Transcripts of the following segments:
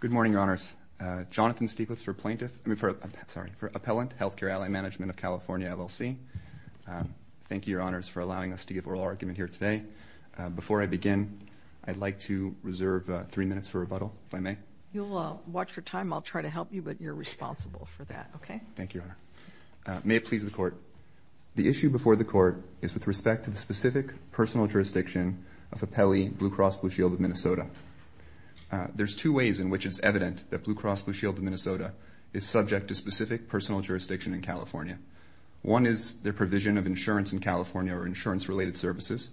Good morning, Your Honors. Jonathan Stieglitz for Appellant Healthcare Ally Management of California LLC. Thank you, Your Honors, for allowing us to give oral argument here today. Before I begin, I'd like to reserve three minutes for rebuttal, if I may. You'll watch your time. I'll try to help you, but you're responsible for that, okay? Thank you, Your Honor. May it please the Court. The issue before the Court is with respect to the specific personal jurisdiction of Appellee Blue Cross Blue Shield of Minnesota. There's two ways in which it's evident that Blue Cross Blue Shield of Minnesota is subject to specific personal jurisdiction in California. One is their provision of insurance in California or insurance-related services,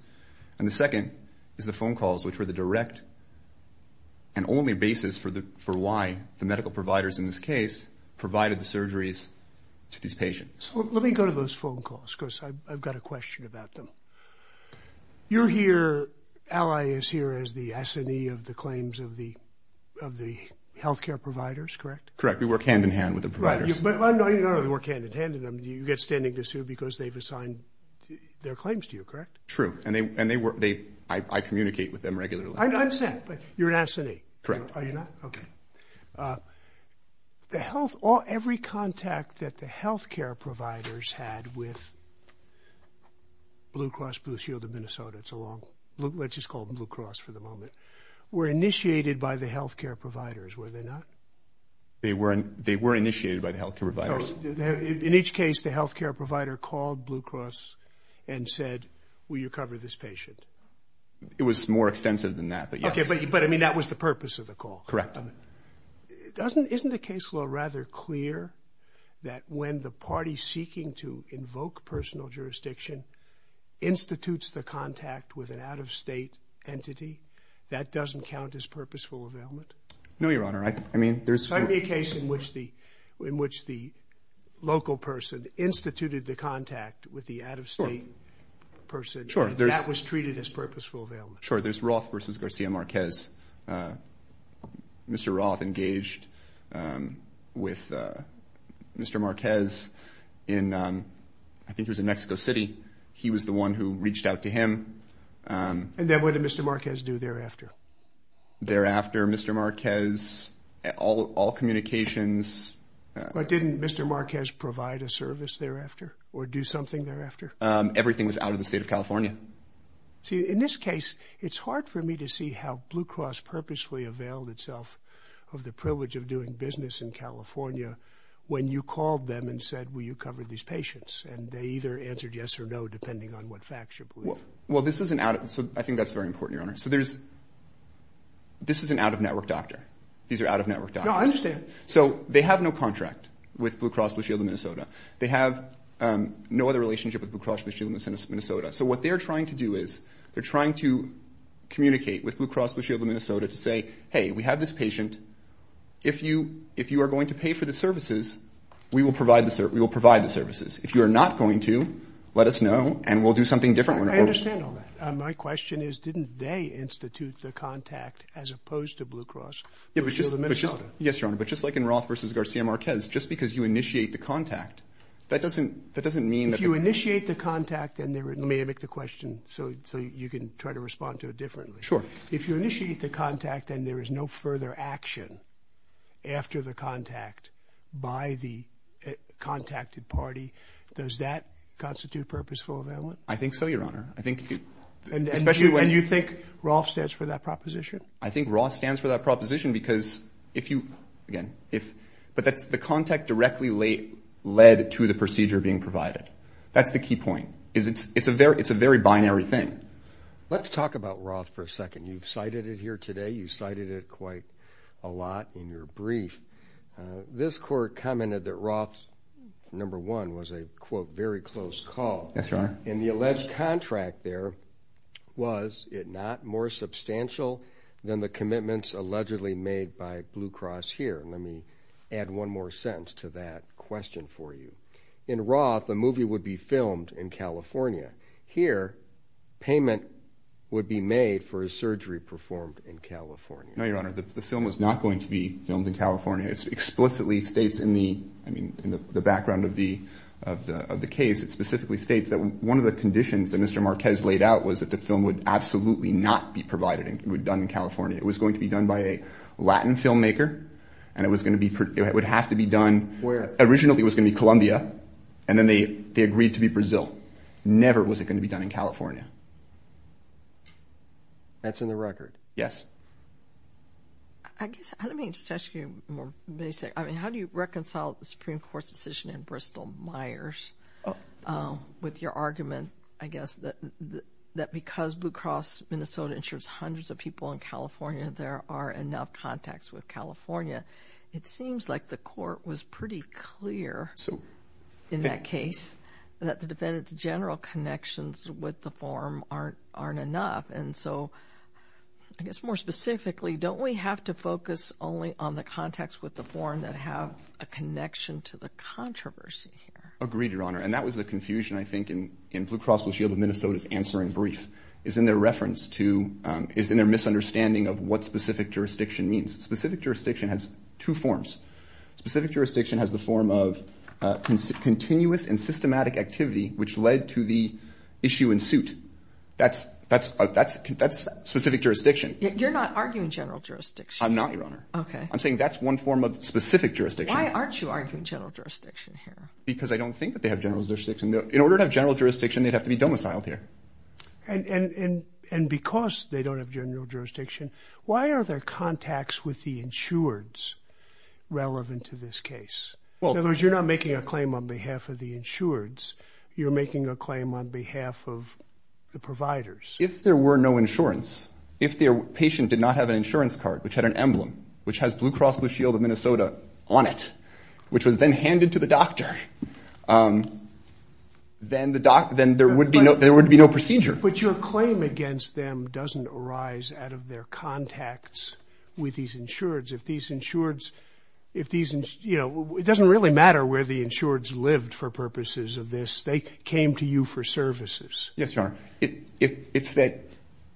and the second is the phone calls, which were the direct and only basis for why the medical providers in this case provided the surgeries to these patients. Let me go to those phone calls because I've got a question about them. You're here, Ally is here as the S&E of the claims of the healthcare providers, correct? Correct. We work hand-in-hand with the providers. But you don't really work hand-in-hand. You get standing to sue because they've assigned their claims to you, correct? True, and I communicate with them regularly. I understand, but you're an S&E. Correct. Are you not? Okay. The health, every contact that the healthcare providers had with Blue Cross Blue Shield of Minnesota, it's a long, let's just call them Blue Cross for the moment, were initiated by the healthcare providers, were they not? They were initiated by the healthcare providers. So in each case, the healthcare provider called Blue Cross and said, will you cover this patient? It was more extensive than that, but yes. Okay, but I mean, that was the purpose of the call. Correct. Isn't the case law rather clear that when the party seeking to invoke personal jurisdiction institutes the contact with an out-of-state entity, that doesn't count as purposeful availment? No, your honor. I mean, there's- There might be a case in which the local person instituted the contact with the out-of-state person and that was treated as Sure, there's Roth versus Garcia Marquez. Mr. Roth engaged with Mr. Marquez in, I think it was in Mexico City. He was the one who reached out to him. And then what did Mr. Marquez do thereafter? Thereafter, Mr. Marquez, all communications- But didn't Mr. Marquez provide a service thereafter or do something thereafter? Everything was out of the state of California. See, in this case, it's hard for me to see how Blue Cross purposely availed itself of the privilege of doing business in California when you called them and said, will you cover these patients? And they either answered yes or no, depending on what facts you believe. Well, this isn't out- I think that's very important, your honor. So there's- This is an out-of-network doctor. These are out-of-network doctors. No, I understand. So they have no contract with Blue Cross Blue Shield of Minnesota. They have no other relationship with Blue Cross Blue Shield of Minnesota. So what they're trying to do is, they're trying to communicate with Blue Cross Blue Shield of Minnesota to say, hey, we have this patient. If you are going to pay for the services, we will provide the services. If you are not going to, let us know and we'll do something different. I understand all that. My question is, didn't they institute the contact as opposed to Blue Cross Blue Shield of Minnesota? Yes, your honor. But just like in Roth versus Garcia Marquez, just because you initiate the contact, that doesn't mean that- If you initiate the contact and there is- Let me make the question so you can try to respond to it differently. Sure. If you initiate the contact and there is no further action after the contact by the contacted party, does that constitute purposeful availment? I think so, your honor. I think- And you think Roth stands for that proposition? I think Roth stands for that proposition because if you- again, if- but that's the contact directly led to the procedure being provided. That's the key point. It's a very binary thing. Let's talk about Roth for a second. You've cited it here today. You cited it quite a lot in your brief. This court commented that Roth, number one, was a, quote, very close call. Yes, your honor. In the alleged contract there, was it not more substantial than the commitments allegedly made by Blue Cross here? Let me add one more sentence to that question for you. In Roth, the movie would be filmed in California. Here, payment would be made for a surgery performed in California. No, your honor. The film was not going to be filmed in California. It explicitly states in the- I mean, in the background of the case, it specifically states that one of the conditions that Mr. Marquez laid out was that the film would absolutely not be provided and done in California. It was going to be done by a Latin filmmaker, and it was going to be- it would have to be done- Where? Originally, it was going to be Columbia, and then they agreed to be Brazil. Never was it going to be done in California. That's in the record. Yes. I guess- let me just ask you, I mean, how do you reconcile the Supreme Court's decision in Bristol-Myers with your argument, I guess, that because Blue Cross Minnesota insures in California, there are enough contacts with California? It seems like the court was pretty clear in that case that the defendant's general connections with the form aren't enough. And so, I guess more specifically, don't we have to focus only on the contacts with the form that have a connection to the controversy here? Agreed, your honor. And that was the confusion, I think, in Blue Cross Blue Shield of Minnesota's is in their reference to- is in their misunderstanding of what specific jurisdiction means. Specific jurisdiction has two forms. Specific jurisdiction has the form of continuous and systematic activity, which led to the issue in suit. That's specific jurisdiction. You're not arguing general jurisdiction. I'm not, your honor. Okay. I'm saying that's one form of specific jurisdiction. Why aren't you arguing general jurisdiction here? Because I don't think that they have general jurisdiction. In order to have general jurisdiction, they would have to have a form. And so, I don't think that's the case. And because they don't have general jurisdiction, why are there contacts with the insureds relevant to this case? In other words, you're not making a claim on behalf of the insureds. You're making a claim on behalf of the providers. If there were no insurance, if the patient did not have an insurance card, which had an emblem, which has Blue Cross Blue Shield of Minnesota on it, which was then handed to the doctor, then there would be no procedure. But your claim against them doesn't arise out of their contacts with these insureds. If these insureds, you know, it doesn't really matter where the insureds lived for purposes of this. They came to you for services. Yes, your honor. It's that,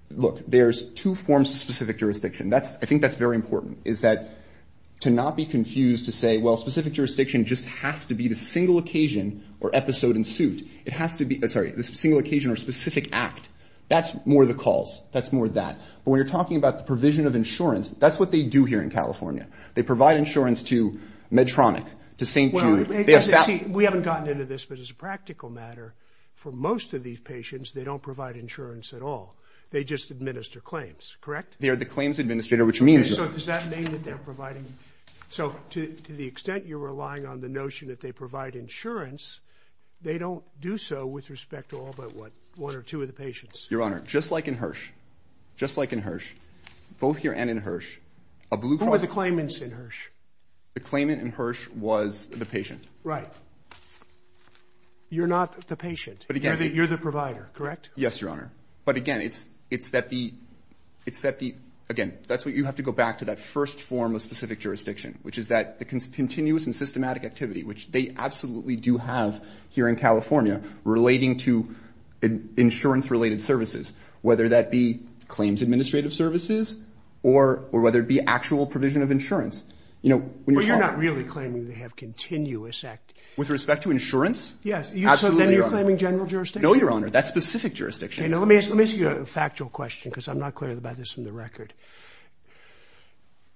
look, there's two forms of specific jurisdiction. I think that's very important, is that to not be confused to say, well, specific jurisdiction just has to be the single occasion or episode in suit. It has to be, sorry, the single occasion or specific act. That's more the calls. That's more that. But when you're talking about the provision of insurance, that's what they do here in California. They provide insurance to Medtronic, to St. Jude. We haven't gotten into this, but as a practical matter, for most of these patients, they don't provide insurance at all. They just administer claims, correct? They are the claims administrator, which means... So does that mean that they're providing... So to the extent you're relying on the notion that they provide insurance, they don't do so with respect to all but, what, one or two of the patients? Your honor, just like in Hirsch, just like in Hirsch, both here and in Hirsch, a blue card... Who are the claimants in Hirsch? The claimant in Hirsch was the patient. Right. You're not the patient. You're the provider, correct? Yes, your honor. But again, it's that the, it's that the, again, that's what you have to go back to that first form of specific jurisdiction, which is that the continuous and systematic activity, which they absolutely do have here in California, relating to insurance related services, whether that be claims administrative services, or whether it be actual provision of insurance. You know, when you're talking... Well, you're not really claiming they have continuous act... With respect to insurance? Yes. Absolutely, your honor. So then you're claiming general jurisdiction? No, your honor. That's specific jurisdiction. Okay, now let me ask you a factual question, because I'm not clear about this from the record.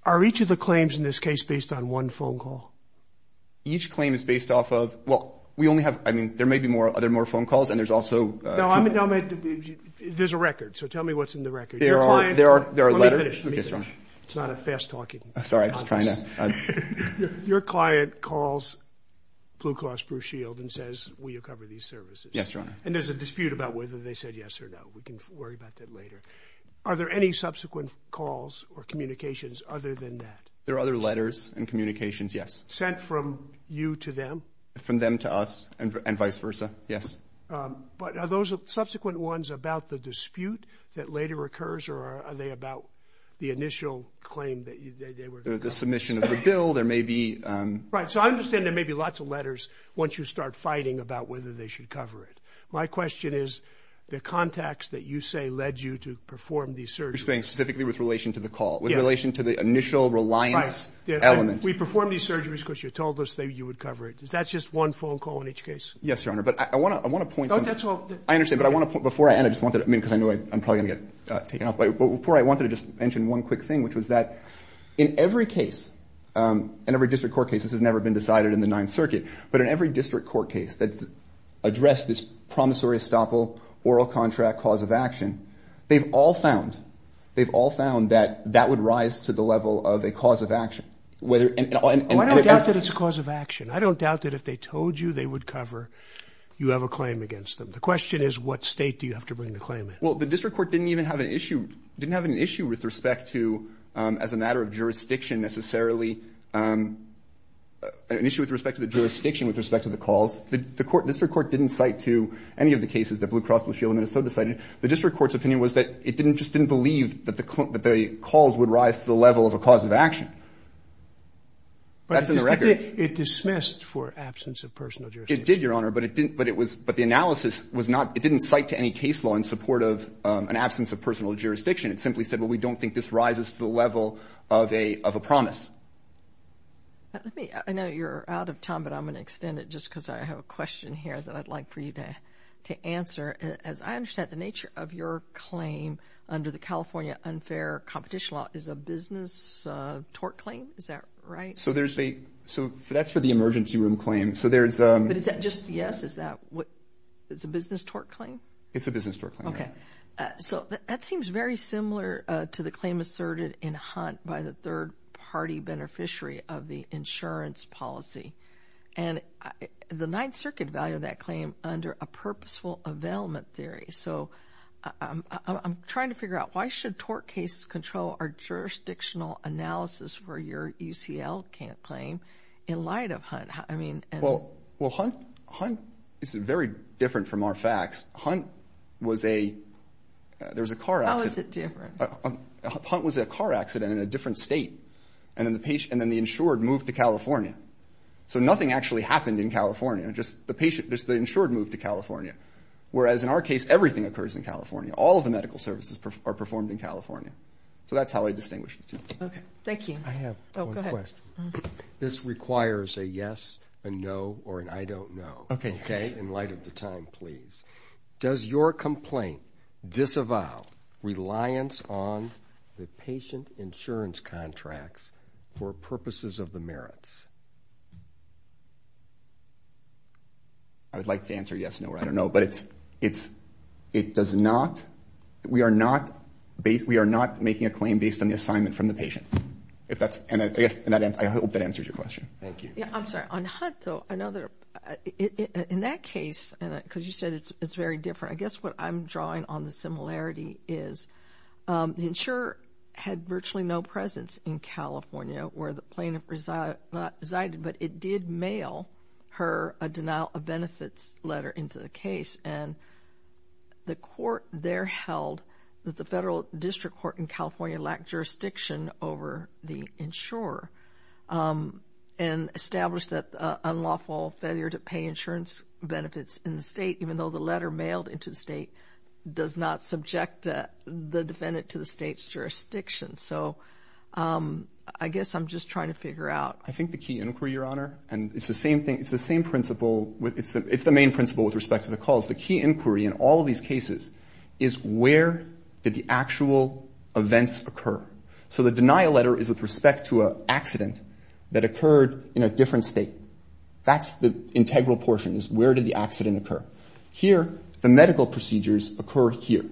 Are each of the claims in this case based on one phone call? Each claim is based off of, well, we only have, I mean, there may be more, are there more phone calls? And there's also... No, I mean, there's a record. So tell me what's in the record. There are, there are, there are... Let me finish, let me finish. It's not a fast-talking... Sorry, I was trying to... Your client calls Blue Cross Blue Shield and says, will you cover these services? Yes, your honor. And there's a dispute about whether they said yes or no. We can worry about that later. Are there any subsequent calls or communications other than that? There are other letters and communications, yes. Sent from you to them? From them to us and vice versa, yes. But are those subsequent ones about the dispute that later occurs, or are they about the initial claim that they were... The submission of the bill, there may be... Right, so I understand there may be lots of letters once you start fighting about whether they should cover it. My question is, the contacts that you say led you to perform these surgeries... You're saying specifically with relation to the call, with relation to the initial reliance... Right. Element. We perform these surgeries because you told us that you would cover it. Is that just one phone call in each case? Yes, your honor. But I want to point... No, that's all... I understand, but I want to... Before I... And I just wanted to... I mean, because I know I'm probably going to get taken off. But before I wanted to just mention one quick thing, which was that in every case, in every district court case, this has never been decided in the Ninth Circuit, but in every district court case that's addressed this promissory estoppel, oral contract, cause of action, they've all found, they've all found that that would rise to the level of a cause of action. Whether... Well, I don't doubt that it's a cause of action. I don't doubt that if they told you they would cover, you have a claim against them. The question is, what state do you have to bring the claim in? Well, the district court didn't even have an issue, didn't have an issue with respect to, as a matter of jurisdiction necessarily, an issue with respect to the jurisdiction with respect to the calls. The court, district court didn't cite to any of the cases that Blue Cross Blue Shield of Minnesota cited. The district court's opinion was that it didn't, just didn't believe that the calls would rise to the level of a cause of action. But it dismissed for absence of personal jurisdiction. It did, Your Honor, but it didn't, but it was, but the analysis was not, it didn't cite to any case law in support of an absence of personal jurisdiction. It simply said, well, we don't think this rises to the level of a promise. I know you're out of time, but I'm going to extend it just because I have a question here that I'd like for you to answer. As I understand the nature of your claim under the California unfair competition law is a business tort claim. Is that right? So there's a, so that's for the emergency room claim. So there's a... But is that just, yes, is that what, it's a business tort claim? It's a business tort claim. Okay. So that seems very similar to the claim asserted in Hunt by the third party beneficiary of the insurance policy and the ninth circuit value of that claim under a purposeful availment theory. So I'm trying to figure out why should tort cases control our jurisdictional analysis for your UCL camp claim in light of Hunt? I mean, and... Well, well, Hunt, Hunt is very different from our facts. Hunt was a, there was a car accident. How is it different? Hunt was a car accident in a different state. And then the patient, and then the insured moved to California. So nothing actually happened in California. Just the patient, just the insured moved to California. Whereas in our case, everything occurs in California. All of the medical services are performed in California. So that's how I distinguish the two. Okay. Thank you. I have one question. This requires a yes, a no, or an I don't know. Okay, yes. Please. Does your complaint disavow reliance on the patient insurance contracts for purposes of the merits? I would like to answer yes, no, or I don't know, but it's, it's, it does not, we are not based, we are not making a claim based on the assignment from the patient. If that's, and I guess, and I hope that answers your question. Thank you. I'm sorry, on Hunt though, I know that in that case, because you said it's very different. I guess what I'm drawing on the similarity is the insurer had virtually no presence in California where the plaintiff resided, but it did mail her a denial of benefits letter into the case. And the court there held that the federal district court in California lacked jurisdiction over the insurer and established that unlawful failure to pay insurance benefits in the state, even though the letter mailed into the state does not subject the defendant to the state's jurisdiction. So I guess I'm just trying to figure out. I think the key inquiry, Your Honor, and it's the same thing. It's the same principle with, it's the main principle with respect to the cause. The key inquiry in all of these cases is where did the actual events occur? So the denial letter is with respect to an accident that occurred in a different state. That's the integral portion is where did the accident occur? Here, the medical procedures occur here.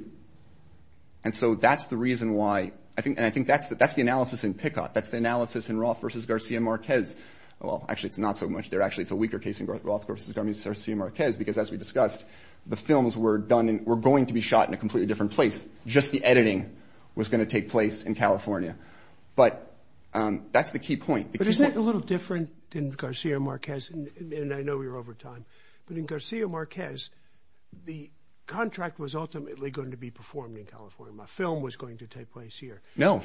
And so that's the reason why, and I think that's the analysis in Pickott. That's the analysis in Roth versus Garcia Marquez. Well, actually, it's not so much there. Actually, it's a weaker case in Roth versus Garcia Marquez, because as we discussed, the films were done and were going to be shot in a completely different place. Just the editing was going to take place in California. But that's the key point. But isn't it a little different than Garcia Marquez? And I know we're over time, but in Garcia Marquez, the contract was ultimately going to be performed in California. My film was going to take place here. No,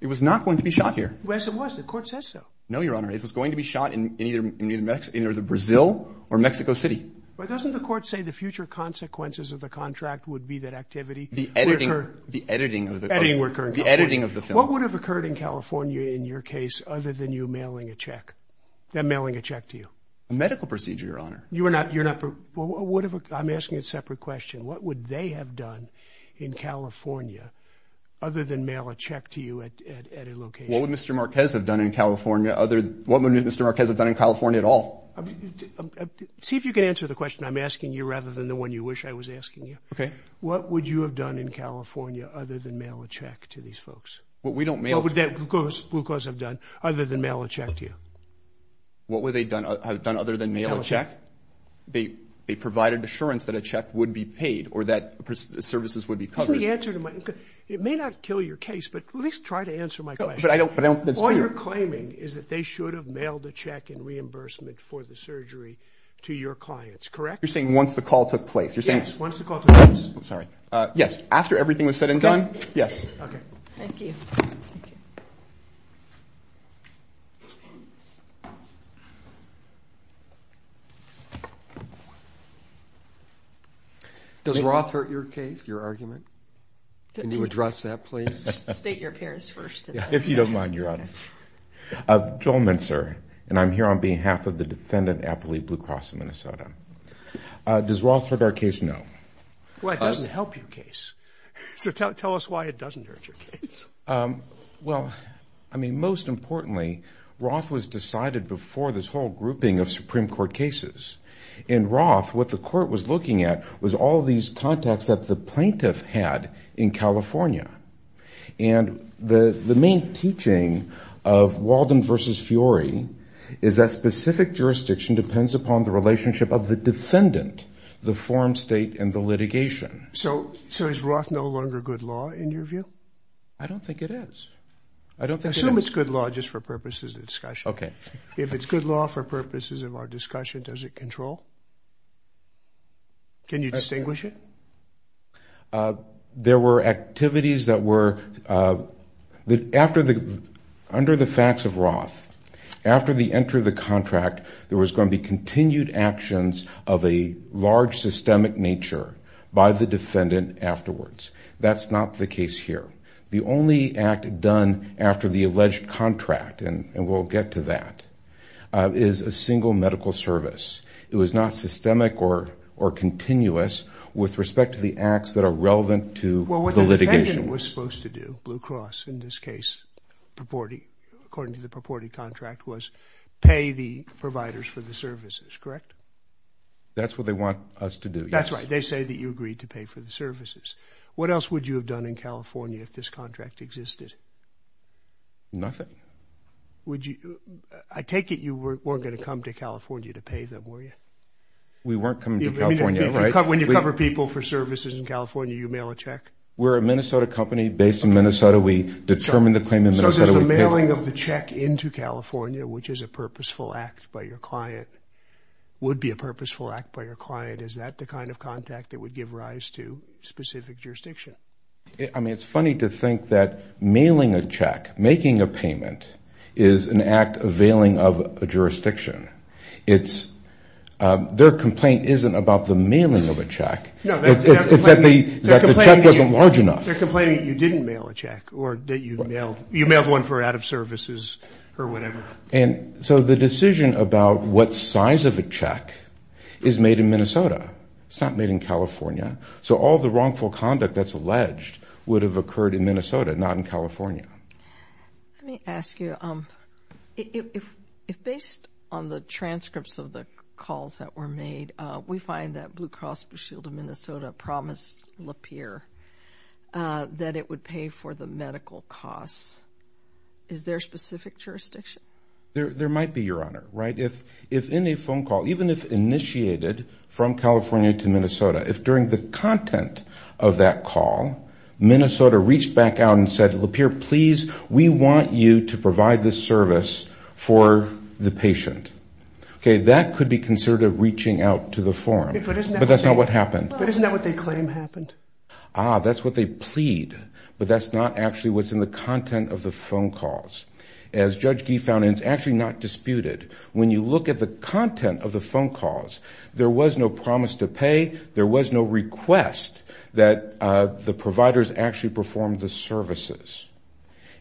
it was not going to be shot here. Yes, it was. The court says so. No, Your Honor, it was going to be shot in either Brazil or Mexico City. But doesn't the court say the future consequences of the contract would be that activity? The editing of the film. What would have occurred in California in your case other than you mailing a check, them mailing a check to you? A medical procedure, Your Honor. You're not, I'm asking a separate question. What would they have done in California other than mail a check to you at a location? What would Mr. Marquez have done in California at all? See if you can answer the question I'm asking you rather than the one you wish I was asking you. Okay. What would you have done in California other than mail a check to these folks? Well, we don't mail. What would that Blue Cross have done other than mail a check to you? What would they have done other than mail a check? They provided assurance that a check would be paid or that services would be covered. Isn't the answer to my, it may not kill your case, but at least try to answer my question. But I don't, but I don't think it's true. All you're claiming is that they should have mailed a check in reimbursement for the surgery to your clients, correct? You're saying once the call took place. Yes. Once the call took place. I'm sorry. Yes. After everything was said and done. Yes. Okay. Thank you. Does Roth hurt your case, your argument? Can you address that please? State your parents first. If you don't mind, Your Honor. I'm Joel Mincer, and I'm here on behalf of the defendant, Appley Blue Cross of Minnesota. Does Roth hurt our case? No. Well, it doesn't help your case. So tell us why it doesn't hurt your case. Well, I mean, most importantly, Roth was decided before this whole grouping of Supreme Court cases. In Roth, what the court was looking at was all these contacts that the plaintiff had in California. And the main teaching of Walden versus Fiori is that specific jurisdiction depends upon the relationship of the defendant, the forum state, and the litigation. So is Roth no longer good law in your view? I don't think it is. I don't think it is. Assume it's good law just for purposes of discussion. Okay. If it's good law for purposes of our discussion, does it control? Can you distinguish it? No. There were activities that were... Under the facts of Roth, after the enter of the contract, there was going to be continued actions of a large systemic nature by the defendant afterwards. That's not the case here. The only act done after the alleged contract, and we'll get to that, is a single medical service. It was not systemic or continuous with respect to the acts that are relevant to the litigation. What the defendant was supposed to do, Blue Cross, in this case, according to the purported contract, was pay the providers for the services, correct? That's what they want us to do, yes. That's right. They say that you agreed to pay for the services. What else would you have done in California if this contract existed? Nothing. Would you... I take it you weren't going to come to California to pay them, were you? We weren't coming to California, right? When you cover people for services in California, you mail a check? We're a Minnesota company based in Minnesota. We determined the claim in Minnesota. So does the mailing of the check into California, which is a purposeful act by your client, would be a purposeful act by your client? Is that the kind of contact that would give rise to specific jurisdiction? I mean, it's funny to think that mailing a check, making a payment, is an act of veiling of a jurisdiction. Their complaint isn't about the mailing of a check. No, they're complaining that you didn't mail a check or that you mailed one for out of services or whatever. So the decision about what size of a check is made in Minnesota. It's not made in California. So all the wrongful conduct that's alleged would have occurred in Minnesota, not in California. Let me ask you, if based on the transcripts of the calls that were made, we find that Blue Cross Blue Shield of Minnesota promised Lapeer that it would pay for the medical costs, is there a specific jurisdiction? There might be, Your Honor, right? If any phone call, even if initiated from California to Minnesota, if during the content of that call, Minnesota reached back out and said, Lapeer, please, we want you to provide this service for the patient. Okay, that could be considered a reaching out to the forum. But that's not what happened. But isn't that what they claim happened? Ah, that's what they plead. But that's not actually what's in the content of the phone calls. As Judge Gee found, and it's actually not disputed, when you look at the content of the phone calls, there was no promise to pay. There was no request that the providers actually performed the services.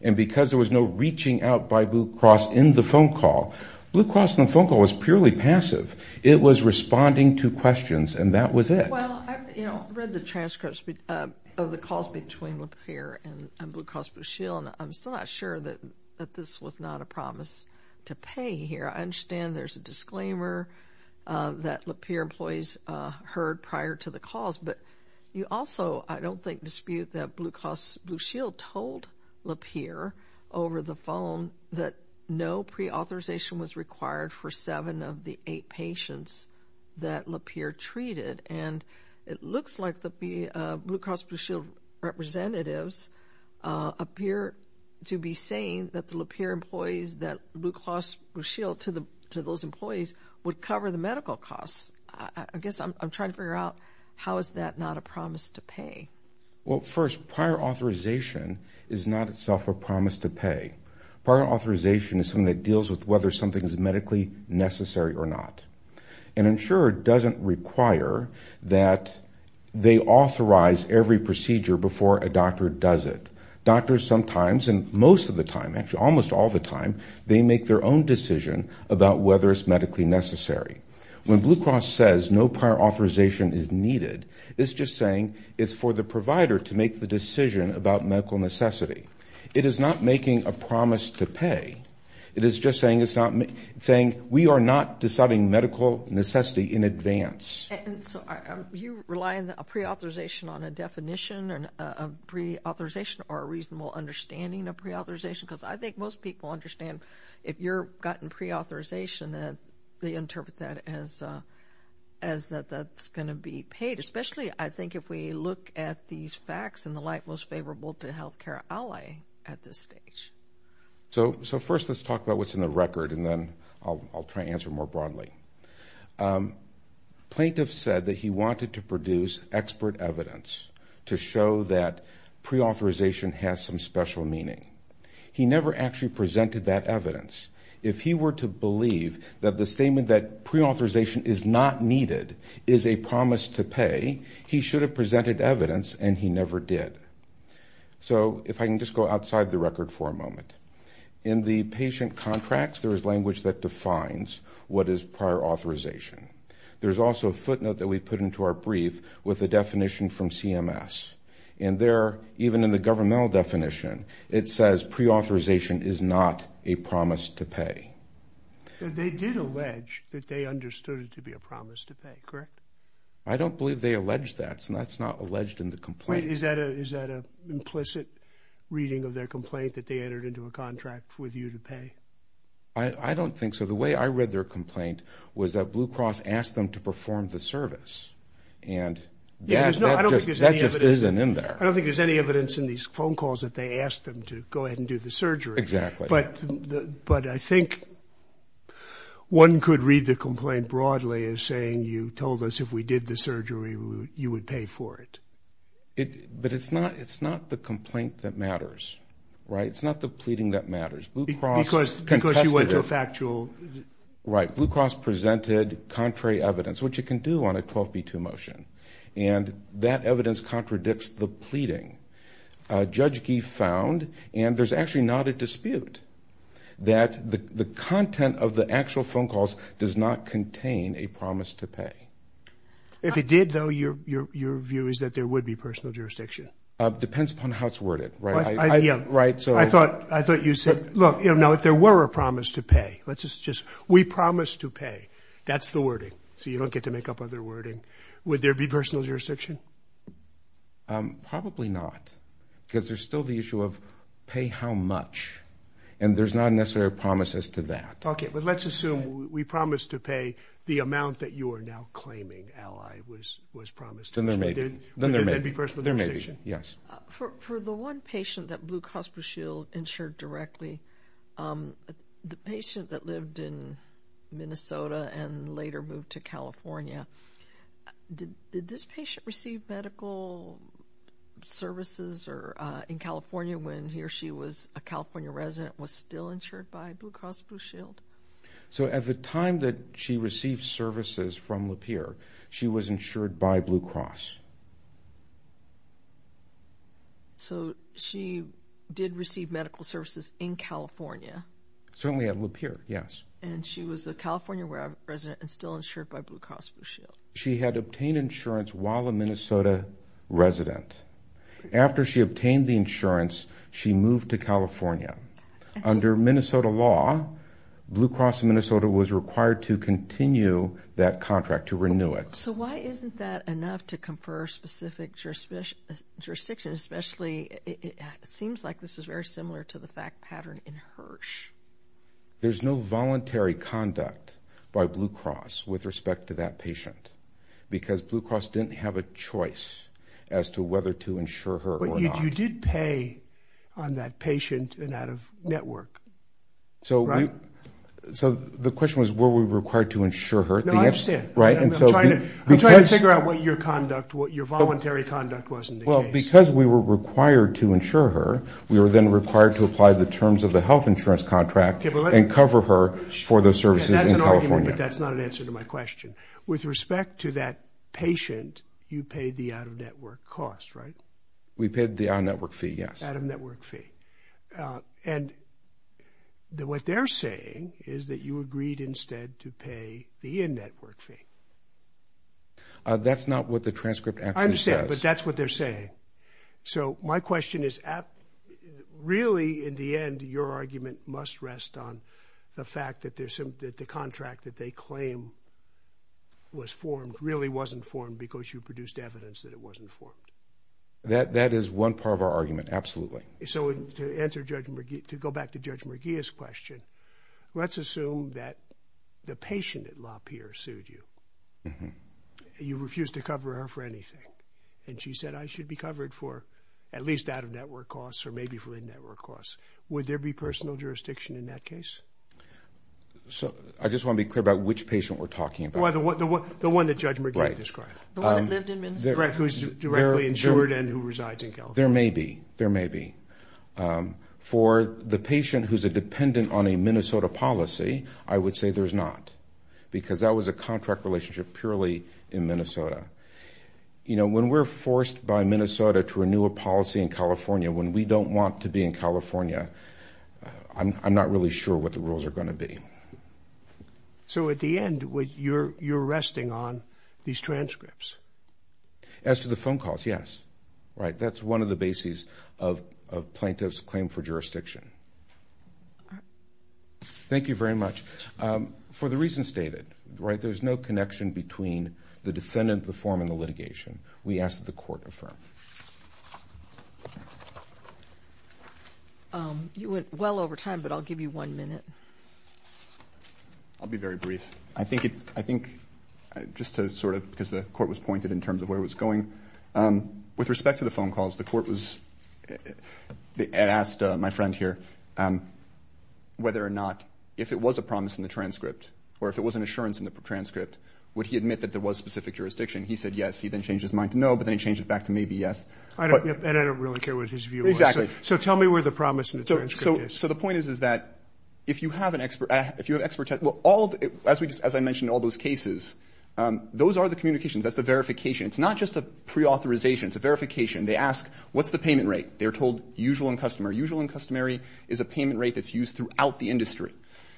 And because there was no reaching out by Blue Cross in the phone call, Blue Cross on the phone call was purely passive. It was responding to questions, and that was it. Well, I read the transcripts of the calls between Lapeer and Blue Cross Blue Shield, and I'm still not sure that this was not a promise to pay here. I understand there's a disclaimer that Lapeer employees heard prior to the calls. But you also, I don't think, dispute that Blue Cross Blue Shield told Lapeer over the phone that no pre-authorization was required for seven of the eight patients that Lapeer treated. And it looks like the Blue Cross Blue Shield representatives appear to be saying that the to those employees would cover the medical costs. I guess I'm trying to figure out how is that not a promise to pay? Well, first, prior authorization is not itself a promise to pay. Prior authorization is something that deals with whether something is medically necessary or not. An insurer doesn't require that they authorize every procedure before a doctor does it. Doctors sometimes, and most of the time, actually almost all the time, they make their own decision about whether it's medically necessary. When Blue Cross says no prior authorization is needed, it's just saying it's for the provider to make the decision about medical necessity. It is not making a promise to pay. It is just saying it's not saying we are not deciding medical necessity in advance. And so are you relying on a pre-authorization on a definition and a pre-authorization or a reasonable understanding of pre-authorization? Because I think most people understand if you're gotten pre-authorization that they interpret that as that that's going to be paid. Especially, I think, if we look at these facts and the light most favorable to healthcare ally at this stage. So first, let's talk about what's in the record and then I'll try to answer more broadly. Plaintiff said that he wanted to produce expert evidence to show that pre-authorization has some special meaning. He never actually presented that evidence. If he were to believe that the statement that pre-authorization is not needed is a promise to pay, he should have presented evidence and he never did. So if I can just go outside the record for a moment. In the patient contracts, there is language that defines what is prior authorization. There's also a footnote that we put into our brief with the definition from CMS. And there, even in the governmental definition, it says pre-authorization is not a promise to pay. They did allege that they understood it to be a promise to pay, correct? I don't believe they allege that. So that's not alleged in the complaint. Is that an implicit reading of their complaint that they entered into a contract with you to pay? I don't think so. The way I read their complaint was that Blue Cross asked them to perform the service. And that just isn't in there. I don't think there's any evidence in these phone calls that they asked them to go ahead and do the surgery. Exactly. But I think one could read the complaint broadly as saying, you told us if we did the surgery, you would pay for it. But it's not the complaint that matters, right? It's not the pleading that matters. Because you went to a factual... Right. ...on a 12B2 motion. And that evidence contradicts the pleading. Judge Gief found, and there's actually not a dispute, that the content of the actual phone calls does not contain a promise to pay. If it did, though, your view is that there would be personal jurisdiction. Depends upon how it's worded, right? I thought you said, look, you know, if there were a promise to pay, let's just... We promise to pay. That's the wording. So you don't get to make up other wording. Would there be personal jurisdiction? Probably not. Because there's still the issue of pay how much. And there's not necessarily a promise as to that. Okay. But let's assume we promised to pay the amount that you are now claiming, Ally, was promised to us. Then there may be. Would there then be personal jurisdiction? Yes. For the one patient that Blue Cross Blue Shield insured directly, um, the patient that lived in Minnesota and later moved to California, did this patient receive medical services or, uh, in California when he or she was a California resident, was still insured by Blue Cross Blue Shield? So at the time that she received services from Lapeer, she was insured by Blue Cross. So she did receive medical services in California. Certainly at Lapeer, yes. And she was a California resident and still insured by Blue Cross Blue Shield. She had obtained insurance while a Minnesota resident. After she obtained the insurance, she moved to California. Under Minnesota law, Blue Cross Minnesota was required to continue that contract to renew it. So why isn't that enough to comply with the law? For specific jurisdiction, especially it seems like this is very similar to the fact pattern in Hirsch. There's no voluntary conduct by Blue Cross with respect to that patient because Blue Cross didn't have a choice as to whether to insure her or not. You did pay on that patient and out of network. So the question was, were we required to insure her? No, I understand. Right. I'm trying to figure out what your conduct, what your voluntary conduct wasn't. Well, because we were required to insure her, we were then required to apply the terms of the health insurance contract and cover her for those services in California. That's not an answer to my question. With respect to that patient, you paid the out-of-network cost, right? We paid the out-of-network fee, yes. Out-of-network fee. And what they're saying is that you agreed instead to pay the in-network fee. That's not what the transcript actually says. I understand, but that's what they're saying. So my question is, really, in the end, your argument must rest on the fact that the contract that they claim was formed really wasn't formed because you produced evidence that it wasn't formed. That is one part of our argument. Absolutely. So to answer Judge McGee, to go back to Judge McGee's question, let's assume that the patient at Lapeer sued you. You refused to cover her for anything. And she said, I should be covered for at least out-of-network costs or maybe for in-network costs. Would there be personal jurisdiction in that case? So I just want to be clear about which patient we're talking about. Well, the one that Judge McGee described. The one that lived in Minnesota. Who's directly insured and who resides in California. There may be. There may be. For the patient who's a dependent on a Minnesota policy, I would say there's not. Because that was a contract relationship purely in Minnesota. You know, when we're forced by Minnesota to renew a policy in California, when we don't want to be in California, I'm not really sure what the rules are going to be. So at the end, you're resting on these transcripts? As to the phone calls, yes. Right. That's one of the bases of plaintiff's claim for jurisdiction. Thank you very much. For the reasons stated, right, there's no connection between the defendant, the form, and the litigation. We ask that the court affirm. You went well over time, but I'll give you one minute. I'll be very brief. I think it's, I think just to sort of, because the court was pointed in terms of where it was going. With respect to the phone calls, the court was, and asked my friend here, whether or not, if it was a promise in the transcript, or if it was an assurance in the transcript, would he admit that there was specific jurisdiction? He said yes. He then changed his mind to no, but then he changed it back to maybe yes. I don't, and I don't really care what his view was. Exactly. So tell me where the promise in the transcript is. So the point is, is that if you have an expert, if you have expertise, well, all, as we just, as I mentioned, all those cases, those are the communications. That's the verification. It's not just a pre-authorization. It's a verification. They ask, what's the payment rate? They're told, usual and customary. Usual and customary is a payment rate that's used throughout the industry.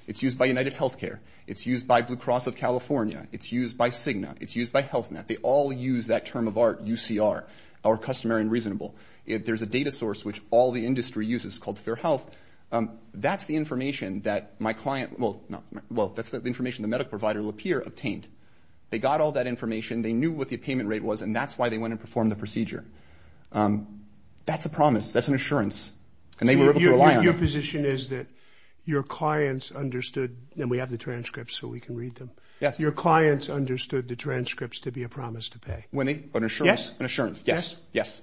It's used by UnitedHealthcare. It's used by Blue Cross of California. It's used by Cigna. It's used by HealthNet. They all use that term of art, UCR, or customary and reasonable. There's a data source, which all the industry uses, called FairHealth. That's the information that my client, well, no, well, that's the information the medical provider, Lapierre, obtained. They got all that information. They knew what the payment rate was, and that's why they went and performed the procedure. That's a promise. That's an assurance. And they were able to rely on it. Your position is that your clients understood, and we have the transcripts, so we can read them, your clients understood the transcripts to be a promise to pay. When they, an assurance, an assurance. Yes. Yes.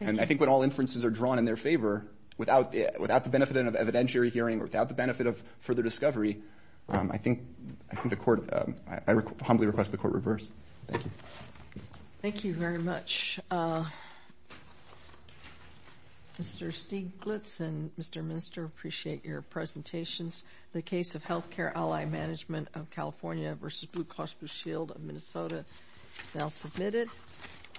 And I think when all inferences are drawn in their favor, without the benefit of evidentiary hearing or without the benefit of further discovery, I think the court, I humbly request the court reverse. Thank you. Thank you very much. Mr. Stieglitz and Mr. Minster, appreciate your presentations. The case of Healthcare Ally Management of California v. Blue Cross Blue Shield of Minnesota is now submitted.